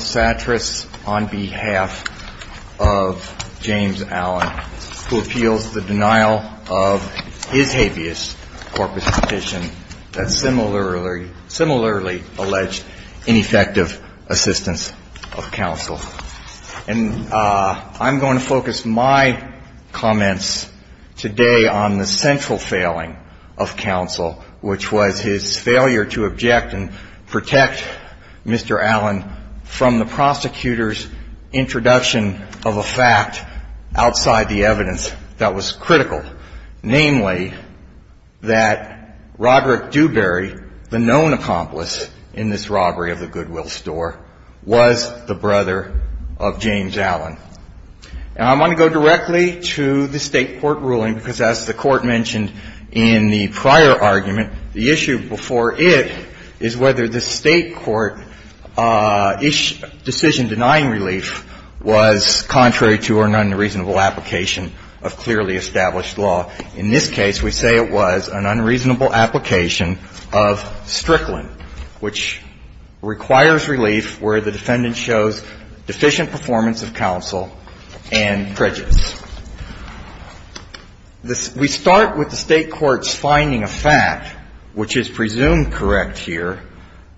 Sattrass, on behalf of James Allen, who appeals the denial of his habeas corpus petition that's similarly alleged ineffective assistance of counsel. And I'm going to focus my comments today on the central failing of counsel, which was his failure to object and protect Mr. Allen from the prosecutor's introduction of a fact outside the evidence that was critical. rule, namely that Roderick Dewberry, the known accomplice in this robbery of the Goodwill store, was the brother of James Allen. And I want to go directly to the State court ruling because, as the Court mentioned in the prior argument, the issue before it is whether the State court's decision in denying relief was contrary to an unreasonable application of clearly established law. In this case, we say it was an unreasonable application of strickland, which requires relief where the defendant shows deficient performance of counsel and prejudice. We start with the State court's finding of fact, which is presumed correct here,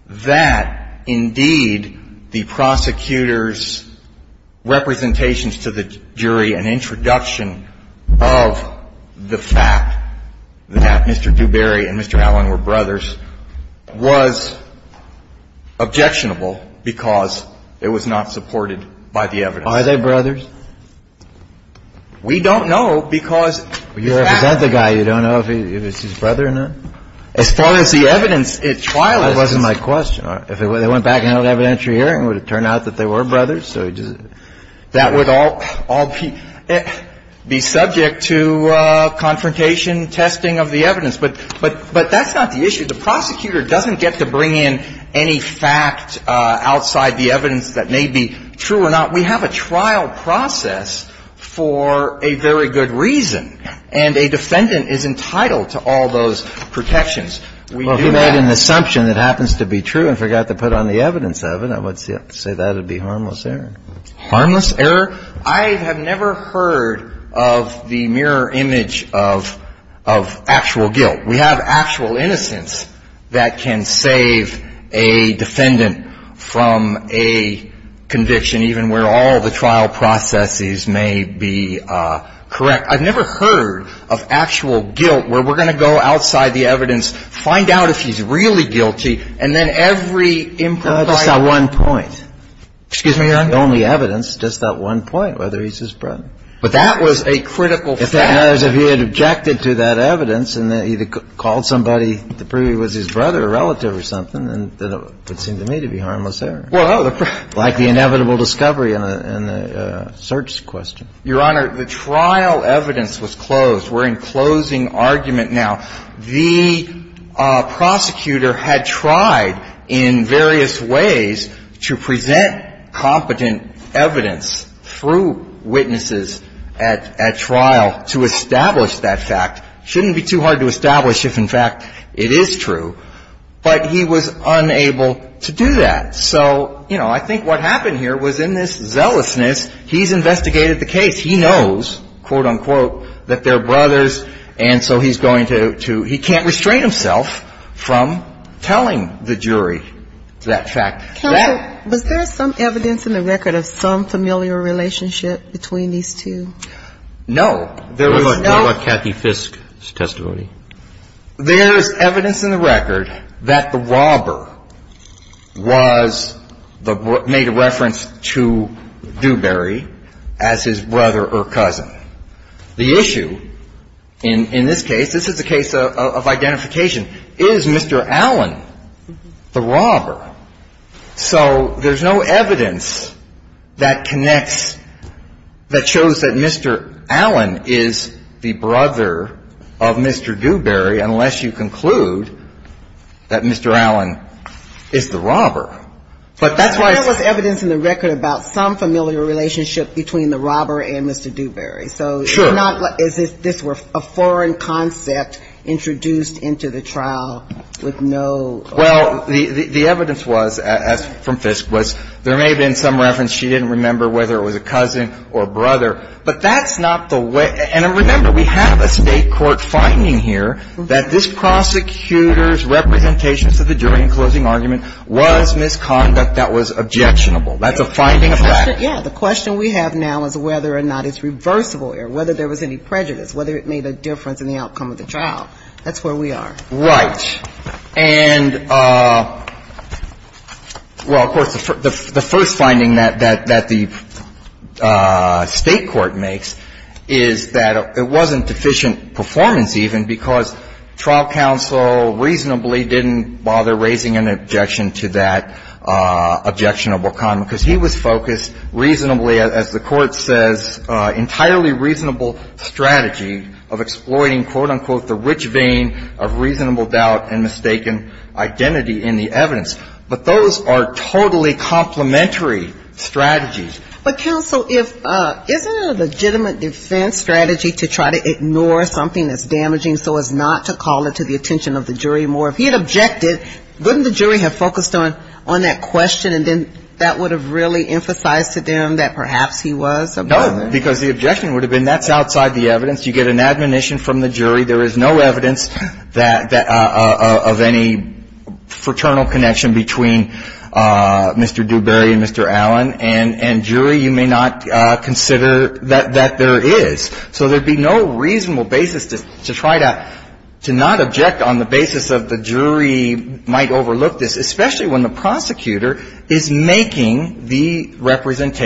that, indeed, the prosecutor's representations to the jury, an introduction of the fact that Mr. Dewberry and Mr. Allen were brothers, was objectionable because it was not supported by the evidence. Are they brothers? We don't know, because the fact is that the guy, you don't know if it's his brother or not. As far as the evidence at trial is concerned It wasn't my question. If they went back and held evidentiary hearing, would it turn out that they were brothers? That would all be subject to confrontation, testing of the evidence. But that's not the issue. The prosecutor doesn't get to bring in any fact outside the evidence that may be true or not. We have a trial process for a very good reason, and a defendant is entitled to all those protections. We do that. Well, if we had an assumption that happens to be true and forgot to put on the evidence of it, I would say that would be harmless error. Harmless error? I have never heard of the mirror image of actual guilt. We have actual innocence that can save a defendant from a conviction, even where all the trial processes may be correct. I've never heard of actual guilt where we're going to go outside the evidence, find out if he's really guilty, and then every improbable point. Just that one point. Excuse me, Your Honor? The only evidence, just that one point, whether he's his brother. But that was a critical fact. If he had objected to that evidence and then either called somebody that was his brother or relative or something, then it would seem to me to be harmless error. Well, no. Like the inevitable discovery in a search question. Your Honor, the trial evidence was closed. We're in closing argument now. The prosecutor had tried in various ways to present competent evidence through witnesses at trial to establish that fact. It shouldn't be too hard to establish if, in fact, it is true. But he was unable to do that. So, you know, I think what happened here was in this zealousness, he's investigated the case, he knows, quote, unquote, that they're brothers, and so he's going to – he can't restrain himself from telling the jury that fact. Counsel, was there some evidence in the record of some familiar relationship between these two? No. There was no – What about Kathy Fisk's testimony? There's evidence in the record that the robber was the – made a reference to Dewberry as his brother or cousin. The issue in this case, this is a case of identification, is Mr. Allen the robber? So there's no evidence that connects – that shows that Mr. Allen is the brother of Mr. Dewberry unless you conclude that Mr. Allen is the robber. But that's why – But there was evidence in the record about some familiar relationship between the robber and Mr. Dewberry. So it's not like – is this a foreign concept introduced into the trial with no – Well, the evidence was, as from Fisk, was there may have been some reference. She didn't remember whether it was a cousin or brother. But that's not the way – and remember, we have a State court finding here that this prosecutor's representation to the jury in closing argument was misconduct that was objectionable. That's a finding of fact. Yeah. The question we have now is whether or not it's reversible or whether there was any prejudice, whether it made a difference in the outcome of the trial. That's where we are. Right. And, well, of course, the first finding that the State court makes is that it wasn't deficient performance even because trial counsel reasonably didn't bother raising an objection to that objectionable comment because he was focused reasonably, as the Court says, entirely reasonable strategy of exploiting, quote, unquote, the rich vein of reasonable doubt and mistaken identity in the evidence. But those are totally complementary strategies. But, counsel, if – isn't it a legitimate defense strategy to try to ignore something that's damaging so as not to call it to the attention of the jury more? If he had objected, wouldn't the jury have focused on that question and then that would have really emphasized to them that perhaps he was a villain? No, because the objection would have been that's outside the evidence. You get an admonition from the jury. There is no evidence that – of any fraternal connection between Mr. Dewberry and Mr. Allen. And jury, you may not consider that there is. So there'd be no reasonable basis to try to not object on the basis of the jury might overlook this, especially when the prosecutor is making the argument.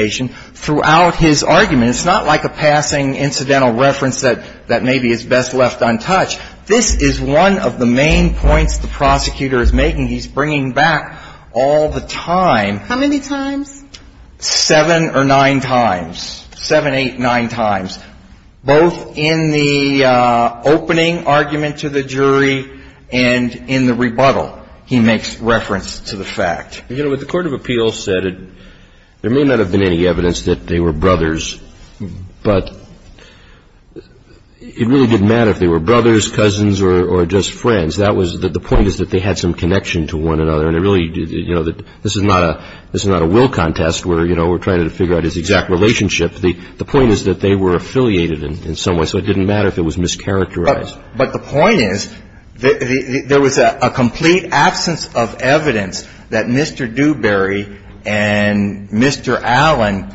It's not like a passing incidental reference that maybe is best left untouched. This is one of the main points the prosecutor is making. He's bringing back all the time. How many times? Seven or nine times, seven, eight, nine times, both in the opening argument to the jury and in the rebuttal he makes reference to the fact. You know, what the court of appeals said, there may not have been any evidence that they were brothers, but it really didn't matter if they were brothers, cousins, or just friends. That was – the point is that they had some connection to one another. And it really – you know, this is not a will contest where, you know, we're trying to figure out his exact relationship. The point is that they were affiliated in some way. So it didn't matter if it was mischaracterized. But the point is that there was a complete absence of evidence that Mr. Dewberry and Mr. Allen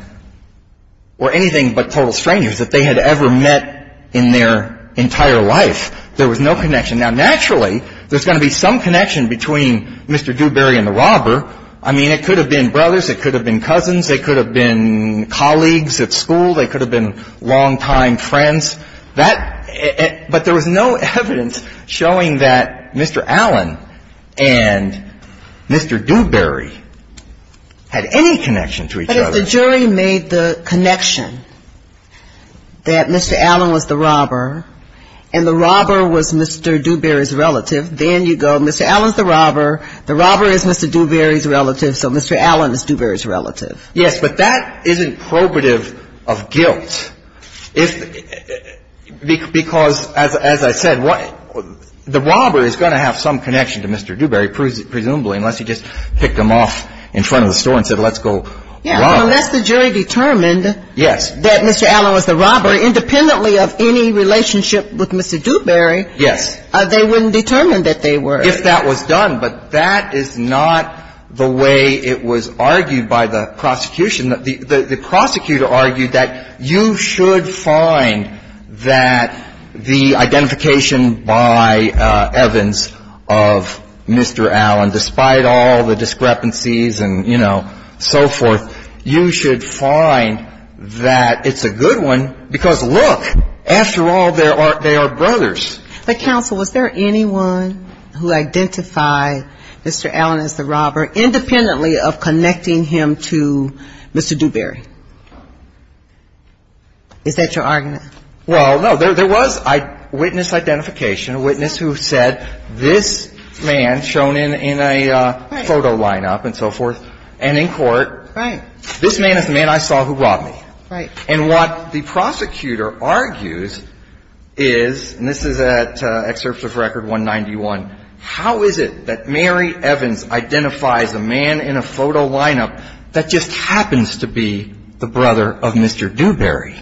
were anything but total strangers, that they had ever met in their entire life. There was no connection. Now, naturally, there's going to be some connection between Mr. Dewberry and the robber. I mean, it could have been brothers, it could have been cousins, it could have been colleagues at school, they could have been longtime friends. That – but there was no evidence showing that Mr. Allen and Mr. Dewberry had any connection to each other. But if the jury made the connection that Mr. Allen was the robber and the robber was Mr. Dewberry's relative, then you go, Mr. Allen's the robber, the robber is Mr. Dewberry's relative, so Mr. Allen is Dewberry's relative. Yes, but that isn't probative of guilt. If – because, as I said, the robber is going to have some connection to Mr. Dewberry, presumably, unless he just picked him off in front of the store and said, let's go rob him. Yeah, unless the jury determined that Mr. Allen was the robber, independently of any relationship with Mr. Dewberry, they wouldn't determine that they were. If that was done. But that is not the way it was argued by the prosecution. The prosecutor argued that you should find that the identification by Evans of Mr. Allen, despite all the discrepancies and, you know, so forth, you should find that it's a good one because, look, after all, they are brothers. But, counsel, was there anyone who identified Mr. Allen as the robber, independently of connecting him to Mr. Dewberry? Is that your argument? Well, no. There was a witness identification, a witness who said, this man, shown in a photo lineup and so forth, and in court, this man is the man I saw who robbed me. Right. And what the prosecutor argues is, and this is at Excerpt of Record 191, how is it that Mary Evans identifies a man in a photo lineup that just happens to be the brother of Mr. Dewberry?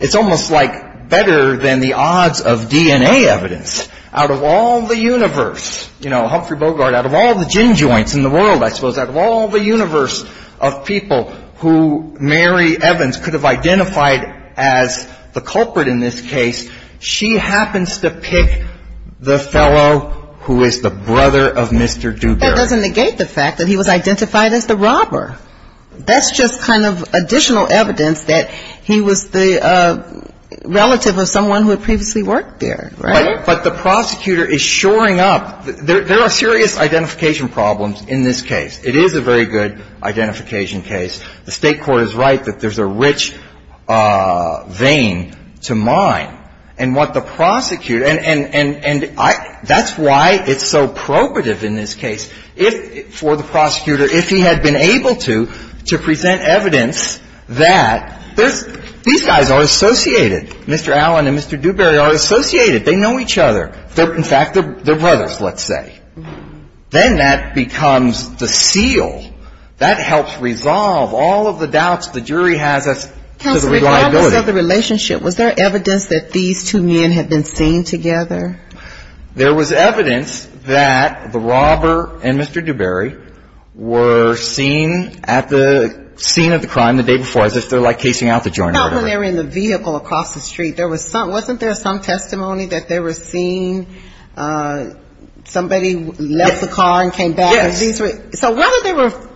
It's almost like better than the odds of DNA evidence. Out of all the universe, you know, Humphrey Bogart, out of all the gin joints in the world, I suppose, out of all the universe of people who Mary Evans could have identified as the culprit in this case, she happens to pick the fellow who is the brother of Mr. Dewberry. That doesn't negate the fact that he was identified as the robber. That's just kind of additional evidence that he was the relative of someone who had previously worked there. Right. But the prosecutor is shoring up. There are serious identification problems in this case. It is a very good identification case. The State Court is right that there's a rich vein to mine, and what the prosecutor, and that's why it's so probative in this case. If, for the prosecutor, if he had been able to, to present evidence that there's, these guys are associated. Mr. Allen and Mr. Dewberry are associated. They know each other. They're, in fact, they're brothers, let's say. Then that becomes the seal. That helps resolve all of the doubts the jury has as to the reliability. Counsel, regardless of the relationship, was there evidence that these two men had been seen together? There was evidence that the robber and Mr. Dewberry were seen at the scene of the crime the day before. As if they're, like, casing out the joint or whatever. Not when they were in the vehicle across the street. There was some, wasn't there some testimony that they were seen, somebody left the car and came back. Yes. And these were, so whether they were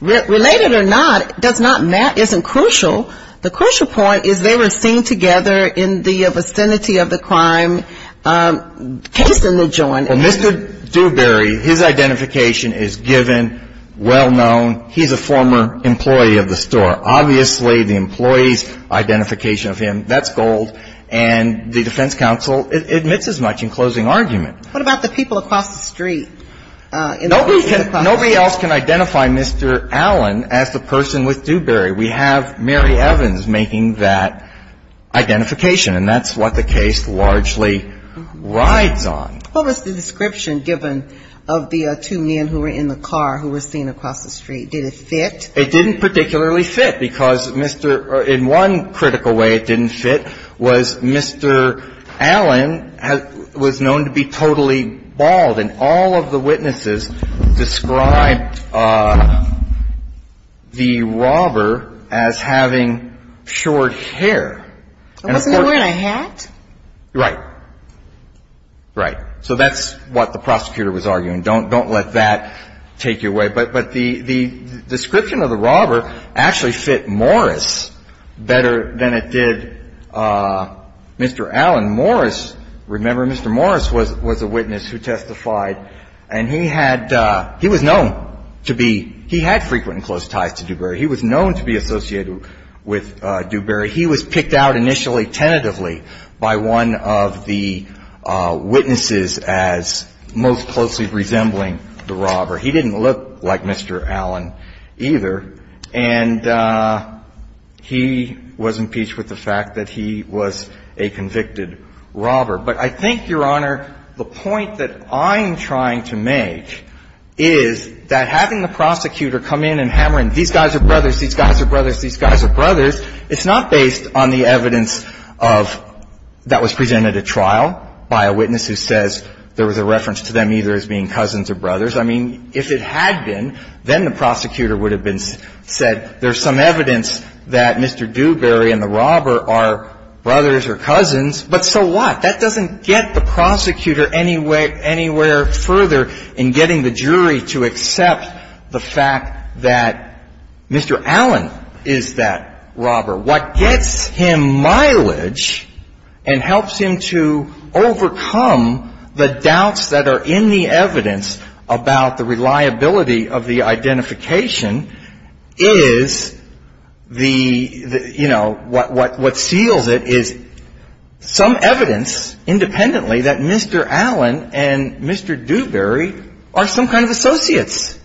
related or not, does not matter, isn't crucial. The crucial point is they were seen together in the vicinity of the crime, casing the joint. Well, Mr. Dewberry, his identification is given, well known. He's a former employee of the store. Obviously, the employee's identification of him, that's gold. And the defense counsel admits as much in closing argument. What about the people across the street? Nobody else can identify Mr. Allen as the person with Dewberry. We have Mary Evans making that identification. And that's what the case largely rides on. What was the description given of the two men who were in the car who were seen across the street? Did it fit? It didn't particularly fit because Mr., in one critical way it didn't fit was Mr. Allen was known to be totally bald. And all of the witnesses described the robber as having short hair. Wasn't he wearing a hat? Right. Right. So that's what the prosecutor was arguing. Don't let that take you away. But the description of the robber actually fit Morris better than it did Mr. Allen. Now, Morris, remember Mr. Morris was a witness who testified, and he had, he was known to be, he had frequent and close ties to Dewberry. He was known to be associated with Dewberry. He was picked out initially tentatively by one of the witnesses as most closely resembling the robber. He didn't look like Mr. Allen either. And he was impeached with the fact that he was a convicted robber. But I think, Your Honor, the point that I'm trying to make is that having the prosecutor come in and hammering, these guys are brothers, these guys are brothers, these guys are brothers, it's not based on the evidence of that was presented at trial by a witness who says there was a reference to them either as being cousins or brothers. I mean, if it had been, then the prosecutor would have been said, there's some evidence that Mr. Dewberry and the robber are brothers or cousins, but so what? That doesn't get the prosecutor any way, anywhere further in getting the jury to accept the fact that Mr. Allen is that robber. What gets him mileage and helps him to overcome the doubts that are in the evidence about the reliability of the identification is the, you know, what seals it is some evidence independently that Mr. Allen and Mr. Dewberry are some kind of associates.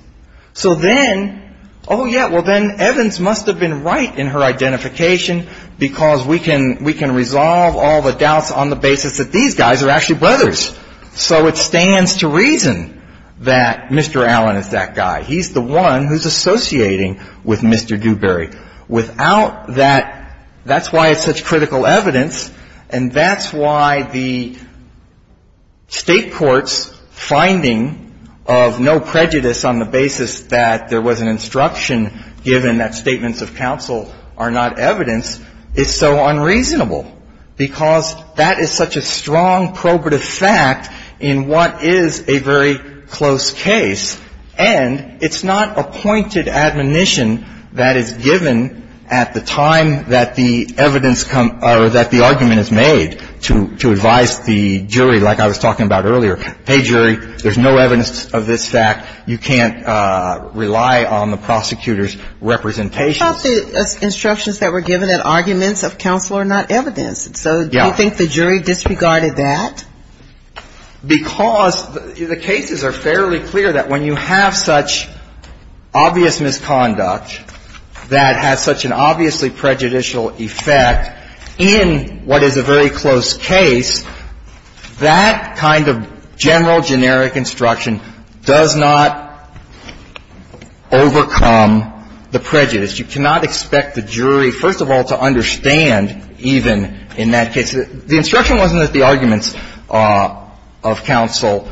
So then, oh, yeah, well, then Evans must have been right in her identification because we can resolve all the doubts on the basis that these guys are actually brothers. So it stands to reason that Mr. Allen is that guy. He's the one who's associating with Mr. Dewberry. Without that, that's why it's such critical evidence, and that's why the state court's finding of no prejudice on the basis that there was an instruction given that statements of counsel are not evidence is so unreasonable because that is such a strong probative fact in what is a very close case, and it's not appointed admonition that is given at the time that the evidence comes, or that the argument is made to advise the jury, like I was talking about earlier, hey, jury, there's no evidence of this fact. You can't rely on the prosecutor's representation. But the instructions that were given in arguments of counsel are not evidence. So do you think the jury disregarded that? Because the cases are fairly clear that when you have such obvious misconduct that has such an obviously prejudicial effect in what is a very close case, that kind of general generic instruction does not overcome the prejudice. You cannot expect the jury, first of all, to understand even in that case. The instruction wasn't that the arguments of counsel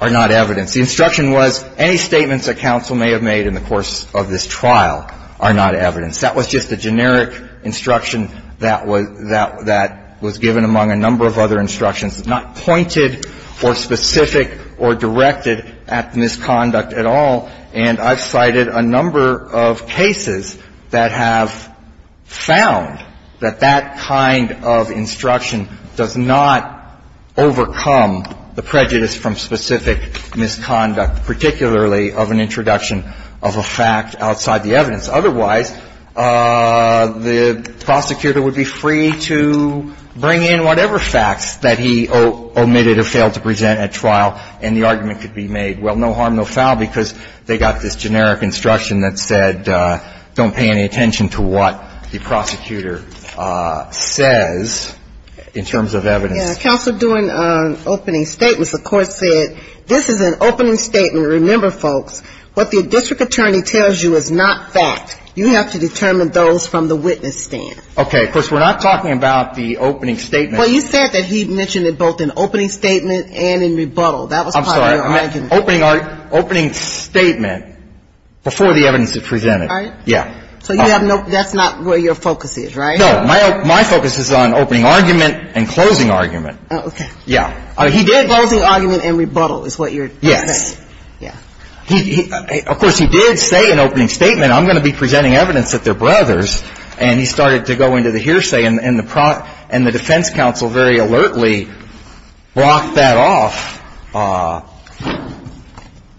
are not evidence. The instruction was any statements that counsel may have made in the course of this trial are not evidence. That was just a generic instruction that was given among a number of other instructions. It's not pointed or specific or directed at the misconduct at all, and I've cited a number of cases that have found that that kind of instruction does not overcome the prejudice from specific misconduct, particularly of an introduction of a fact outside the evidence. Otherwise, the prosecutor would be free to bring in whatever facts that he omitted or failed to present at trial, and the argument could be made, well, no harm, no foul, because they got this generic instruction that said, don't pay any attention to what the prosecutor says in terms of evidence. Counsel, during opening statements, the court said, this is an opening statement. Remember, folks, what the district attorney tells you is not fact. You have to determine those from the witness stand. Okay, of course, we're not talking about the opening statement. Well, you said that he mentioned it both in opening statement and in rebuttal. That was part of your argument. Opening statement before the evidence is presented. All right. Yeah. So you have no – that's not where your focus is, right? No. My focus is on opening argument and closing argument. Okay. Yeah. Closing argument and rebuttal is what you're saying. Yes. Yeah. Of course, he did say in opening statement, I'm going to be presenting evidence that they're brothers, and he started to go into the hearsay, and the defense counsel very alertly blocked that off.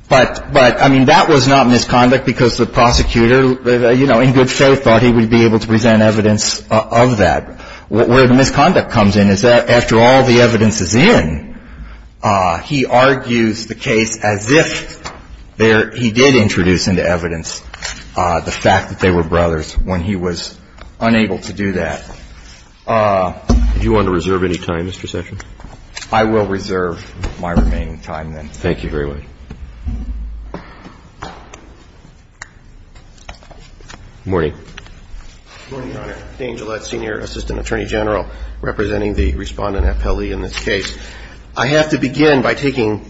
But, I mean, that was not misconduct because the prosecutor, you know, in good faith thought he would be able to present evidence of that. Where the misconduct comes in is that after all the evidence is in, he argues the case as if there – he did introduce into evidence the fact that they were brothers when he was unable to do that. Would you want to reserve any time, Mr. Sessions? I will reserve my remaining time, then, Mr. Chief Justice. Thank you very much. Good morning. Good morning, Your Honor. Dean Gillette, Senior Assistant Attorney General, representing the Respondent at Pele in this case. I have to begin by taking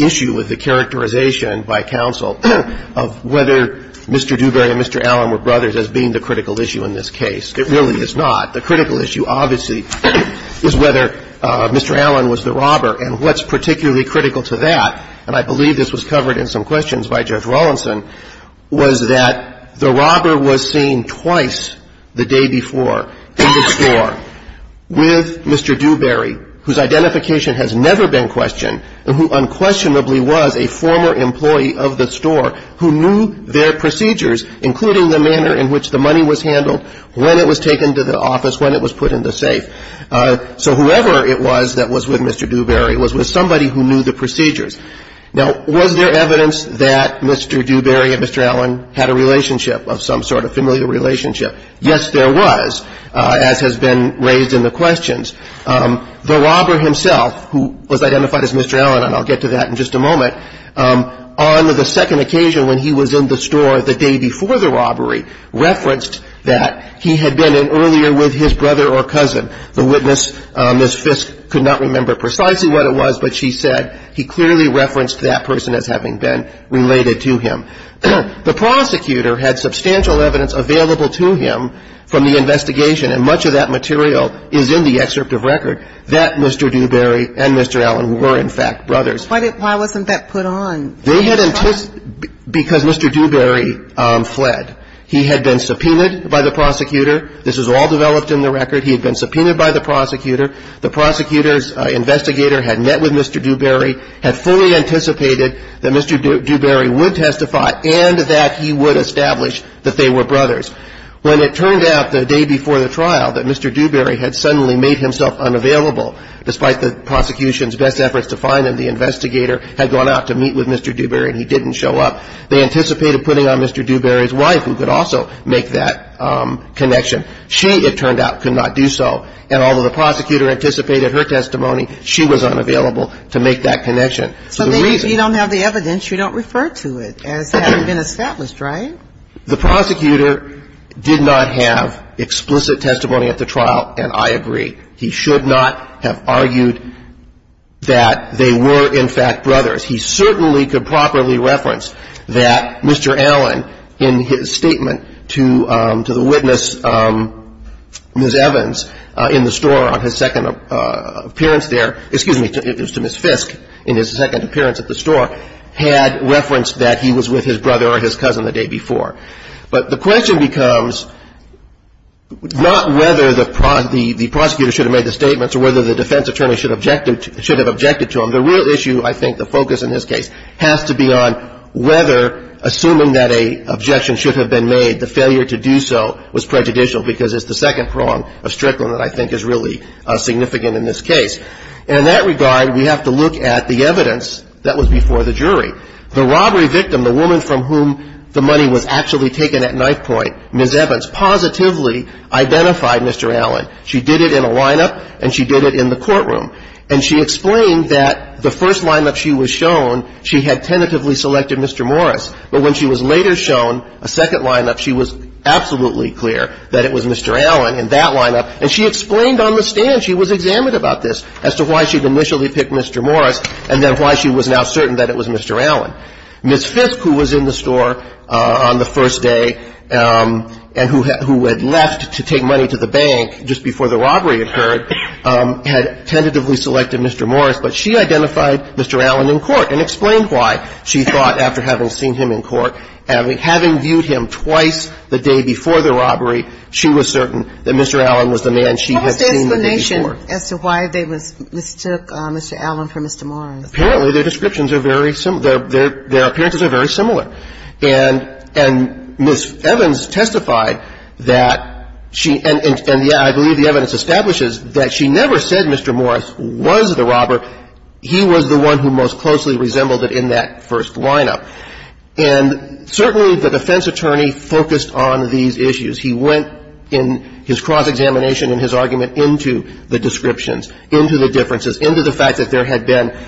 issue with the characterization by counsel of whether Mr. Dewberry or Mr. Allen were brothers as being the critical issue in this case. It really is not. The critical issue, obviously, is whether Mr. Allen was the robber. And what's particularly critical to that, and I believe this was covered in some questions by Judge Rawlinson, was that the robber was seen twice the day before in the store with Mr. Dewberry, whose identification has never been questioned and who unquestionably was a former employee of the store who knew their identification and was taken to the office when it was put in the safe. So whoever it was that was with Mr. Dewberry was with somebody who knew the procedures. Now, was there evidence that Mr. Dewberry and Mr. Allen had a relationship, of some sort of familial relationship? Yes, there was, as has been raised in the questions. The robber himself, who was identified as Mr. Allen, and I'll get to that in just a moment, on the second occasion when he was in the store the day before the robbery, referenced that he had been in earlier with his brother or cousin. The witness, Ms. Fisk, could not remember precisely what it was, but she said he clearly referenced that person as having been related to him. The prosecutor had substantial evidence available to him from the investigation, and much of that material is in the excerpt of record, that Mr. Dewberry and Mr. Allen were, in fact, brothers. Why wasn't that put on? They had anticipated, because Mr. Dewberry fled. He had been subpoenaed by the prosecutor. This is all developed in the record. He had been subpoenaed by the prosecutor. The prosecutor's investigator had met with Mr. Dewberry, had fully anticipated that Mr. Dewberry would testify, and that he would establish that they were brothers. When it turned out, the day before the trial, that Mr. Dewberry had suddenly made himself unavailable, despite the prosecution's best efforts to find him, the investigator had gone out to meet with Mr. Dewberry, and he didn't show up. They anticipated putting on Mr. Dewberry's wife, who could also make that connection. She, it turned out, could not do so. And although the prosecutor anticipated her testimony, she was unavailable to make that connection. So the reason you don't have the evidence, you don't refer to it as having been established, right? The prosecutor did not have explicit testimony at the trial, and I agree. He should not have argued that they were, in fact, brothers. He certainly could properly reference that Mr. Allen, in his statement to the witness, Ms. Evans, in the store on his second appearance there, excuse me, it was to Ms. Fisk, in his second appearance at the store, had referenced that he was with his brother or his cousin the day before. But the question becomes not whether the prosecutor should have made the statements or whether the defense attorney should have objected to them. The real issue, I think, the focus in this case, has to be on whether, assuming that an objection should have been made, the failure to do so was prejudicial, because it's the second prong of Strickland that I think is really significant in this case. And in that regard, we have to look at the evidence that was before the jury. The robbery victim, the woman from whom the money was actually taken at knife point, Ms. Evans, positively identified Mr. Allen. She did it in a lineup, and she did it in the courtroom. And she explained that the first lineup she was shown, she had tentatively selected Mr. Morris, but when she was later shown a second lineup, she was absolutely clear that it was Mr. Allen in that lineup. And she explained on the stand, she was examined about this, as to why she'd initially picked Mr. Morris and then why she was now certain that it was Mr. Allen. Ms. Fisk, who was in the store on the first day and who had left to take money to the bank just before the robbery occurred, had tentatively selected Mr. Morris, but she identified Mr. Allen in court and explained why. She thought, after having seen him in court, having viewed him twice the day before the robbery, she was certain that Mr. Allen was the man she had seen the day before. As to why they mistook Mr. Allen for Mr. Morris? Apparently, their descriptions are very similar. Their appearances are very similar. And Ms. Evans testified that she, and yeah, I believe the evidence establishes that she never said Mr. Morris was the robber. He was the one who most closely resembled it in that first lineup. And certainly the defense attorney focused on these issues. He went in his cross-examination and his argument into the descriptions, into the differences, into the fact that there had been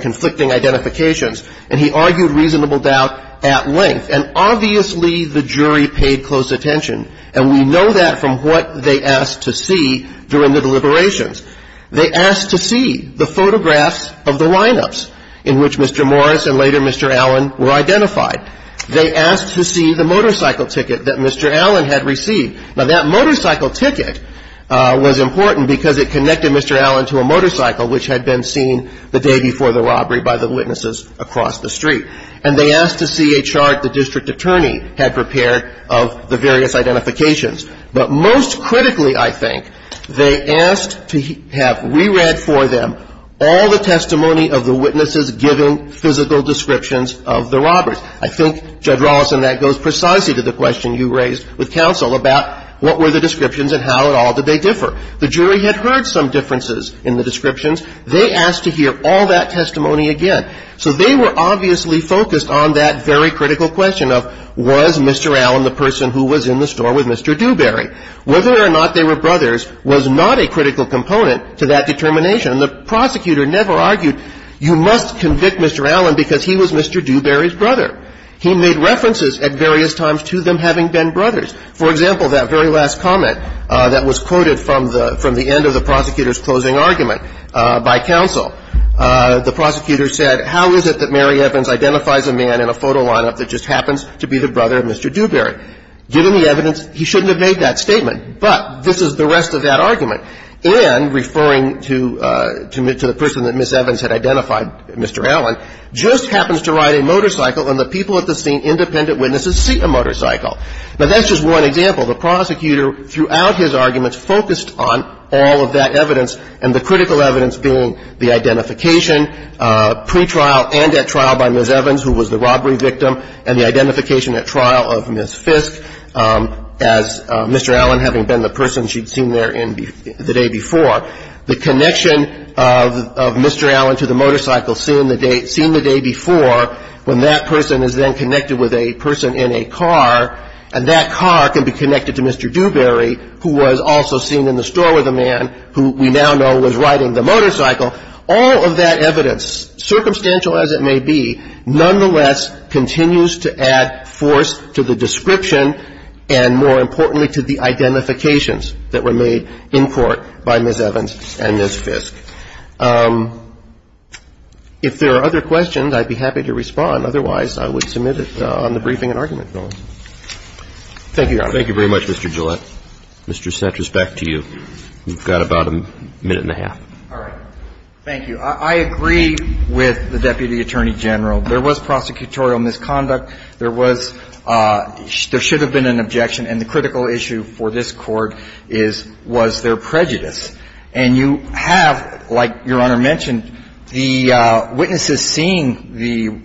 conflicting identifications, and he argued reasonable doubt at length. And obviously the jury paid close attention, and we know that from what they asked to see during the deliberations. They asked to see the photographs of the lineups in which Mr. Morris and later Mr. Allen were identified. They asked to see the motorcycle ticket that Mr. Allen had received. Now that motorcycle ticket was important because it connected Mr. Allen to a motorcycle which had been seen the day before the robbery by the witnesses across the street. And they asked to see a chart the district attorney had prepared of the various identifications. But most critically, I think, they asked to have re-read for them all the testimony of the witnesses given physical descriptions of the robbers. I think, Judge Rawlinson, that goes precisely to the question you raised with counsel about what were the descriptions and how at all did they differ. The jury had heard some differences in the descriptions. They asked to hear all that testimony again. So they were obviously focused on that very critical question of was Mr. Allen the person who was in the store with Mr. Dewberry. Whether or not they were brothers was not a critical component to that determination. And the prosecutor never argued you must convict Mr. Allen because he was Mr. Dewberry's brother. He made references at various times to them having been brothers. For example, that very last comment that was quoted from the end of the prosecutor's closing argument by counsel. The prosecutor said, how is it that Mary Evans identifies a man in a photo lineup that just happens to be the brother of Mr. Dewberry? Given the evidence, he shouldn't have made that statement. But this is the rest of that argument. And referring to the person that Ms. Evans had identified, Mr. Allen, just happens to ride a motorcycle and the people at the scene, independent witnesses, see a motorcycle. Now that's just one example. The prosecutor throughout his arguments focused on all of that evidence and the critical evidence being the identification, pre-trial and at trial by Ms. Evans who was the robbery victim and the identification at trial of Ms. Fisk as Mr. Allen having been the person she'd seen there the day before. The connection of Mr. Allen to the motorcycle seen the day before when that person is then connected with a person in a car and that car can be connected to Mr. Dewberry who was also seen in the store with a man who we now know was riding the motorcycle, all of that evidence, circumstantial as it may be, nonetheless continues to add force to the description and more importantly to the identifications that were made in court by Ms. Evans. If there are other questions, I'd be happy to respond. Otherwise, I would submit it on the briefing and argument bill. Thank you, Your Honor. Thank you very much, Mr. Gillette. Mr. Cetras, back to you. You've got about a minute and a half. All right. Thank you. I agree with the Deputy Attorney General. There was prosecutorial misconduct. There was – there should have been an objection and the critical issue for this court is was there prejudice? And you have, like Your Honor mentioned, the witnesses seeing the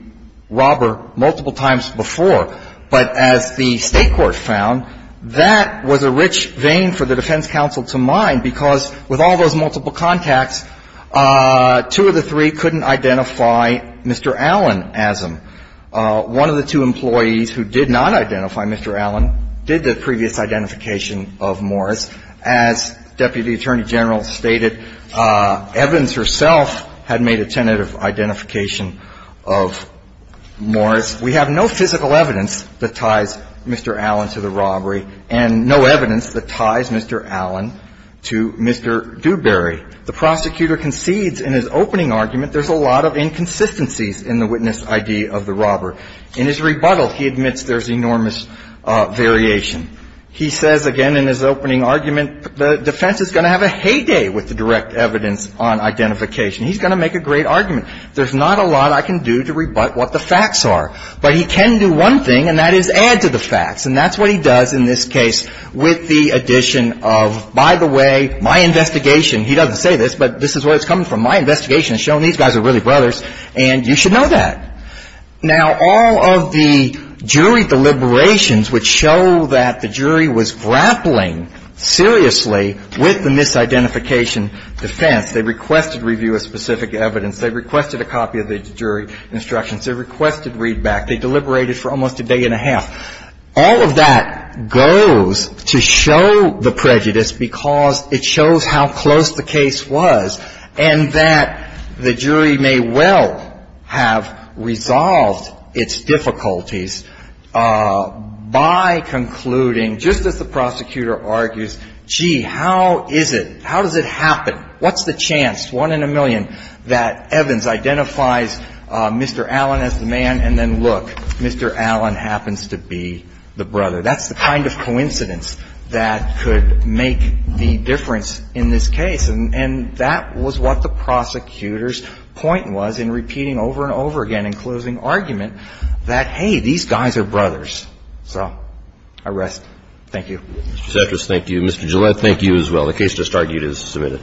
robber multiple times before. But as the State Court found, that was a rich vein for the defense counsel to mine because with all those multiple contacts, two of the three couldn't identify Mr. Allen as him. One of the two employees who did not identify Mr. Allen did the previous identification of Morris. As Deputy Attorney General stated, Evans herself had made a tentative identification of Morris. We have no physical evidence that ties Mr. Allen to the robbery and no evidence that ties Mr. Allen to Mr. Dewberry. The prosecutor concedes in his opening argument there's a lot of inconsistencies in the witness ID of the robber. In his rebuttal, he admits there's enormous variation. He says again in his opening argument, the defense is going to have a heyday with the direct evidence on identification. He's going to make a great argument. There's not a lot I can do to rebut what the facts are. But he can do one thing and that is add to the facts. And that's what he does in this case with the addition of, by the way, my investigation – he doesn't say this, but this is where it's coming from. My investigation has shown these guys are really brothers and you should know that. Now, all of the jury deliberations would show that the jury was grappling seriously with the misidentification defense. They requested review of specific evidence. They requested a copy of the jury instructions. They requested readback. They deliberated for almost a day and a half. All of that goes to show the prejudice because it shows how close the case was and that the jury may well have resolved its difficulties by concluding, just as the prosecutor argues, gee, how is it, how does it happen, what's the chance, one in a million, that Evans identifies Mr. Allen as the man and then look, Mr. Allen happens to be the brother. That's the kind of coincidence that could make the difference in this case. And that was what the prosecutor's point was in repeating over and over again in closing argument that, hey, these guys are brothers. So, I rest. Thank you. Mr. Cetras, thank you. Mr. Gillette, thank you as well. The case just argued is submitted.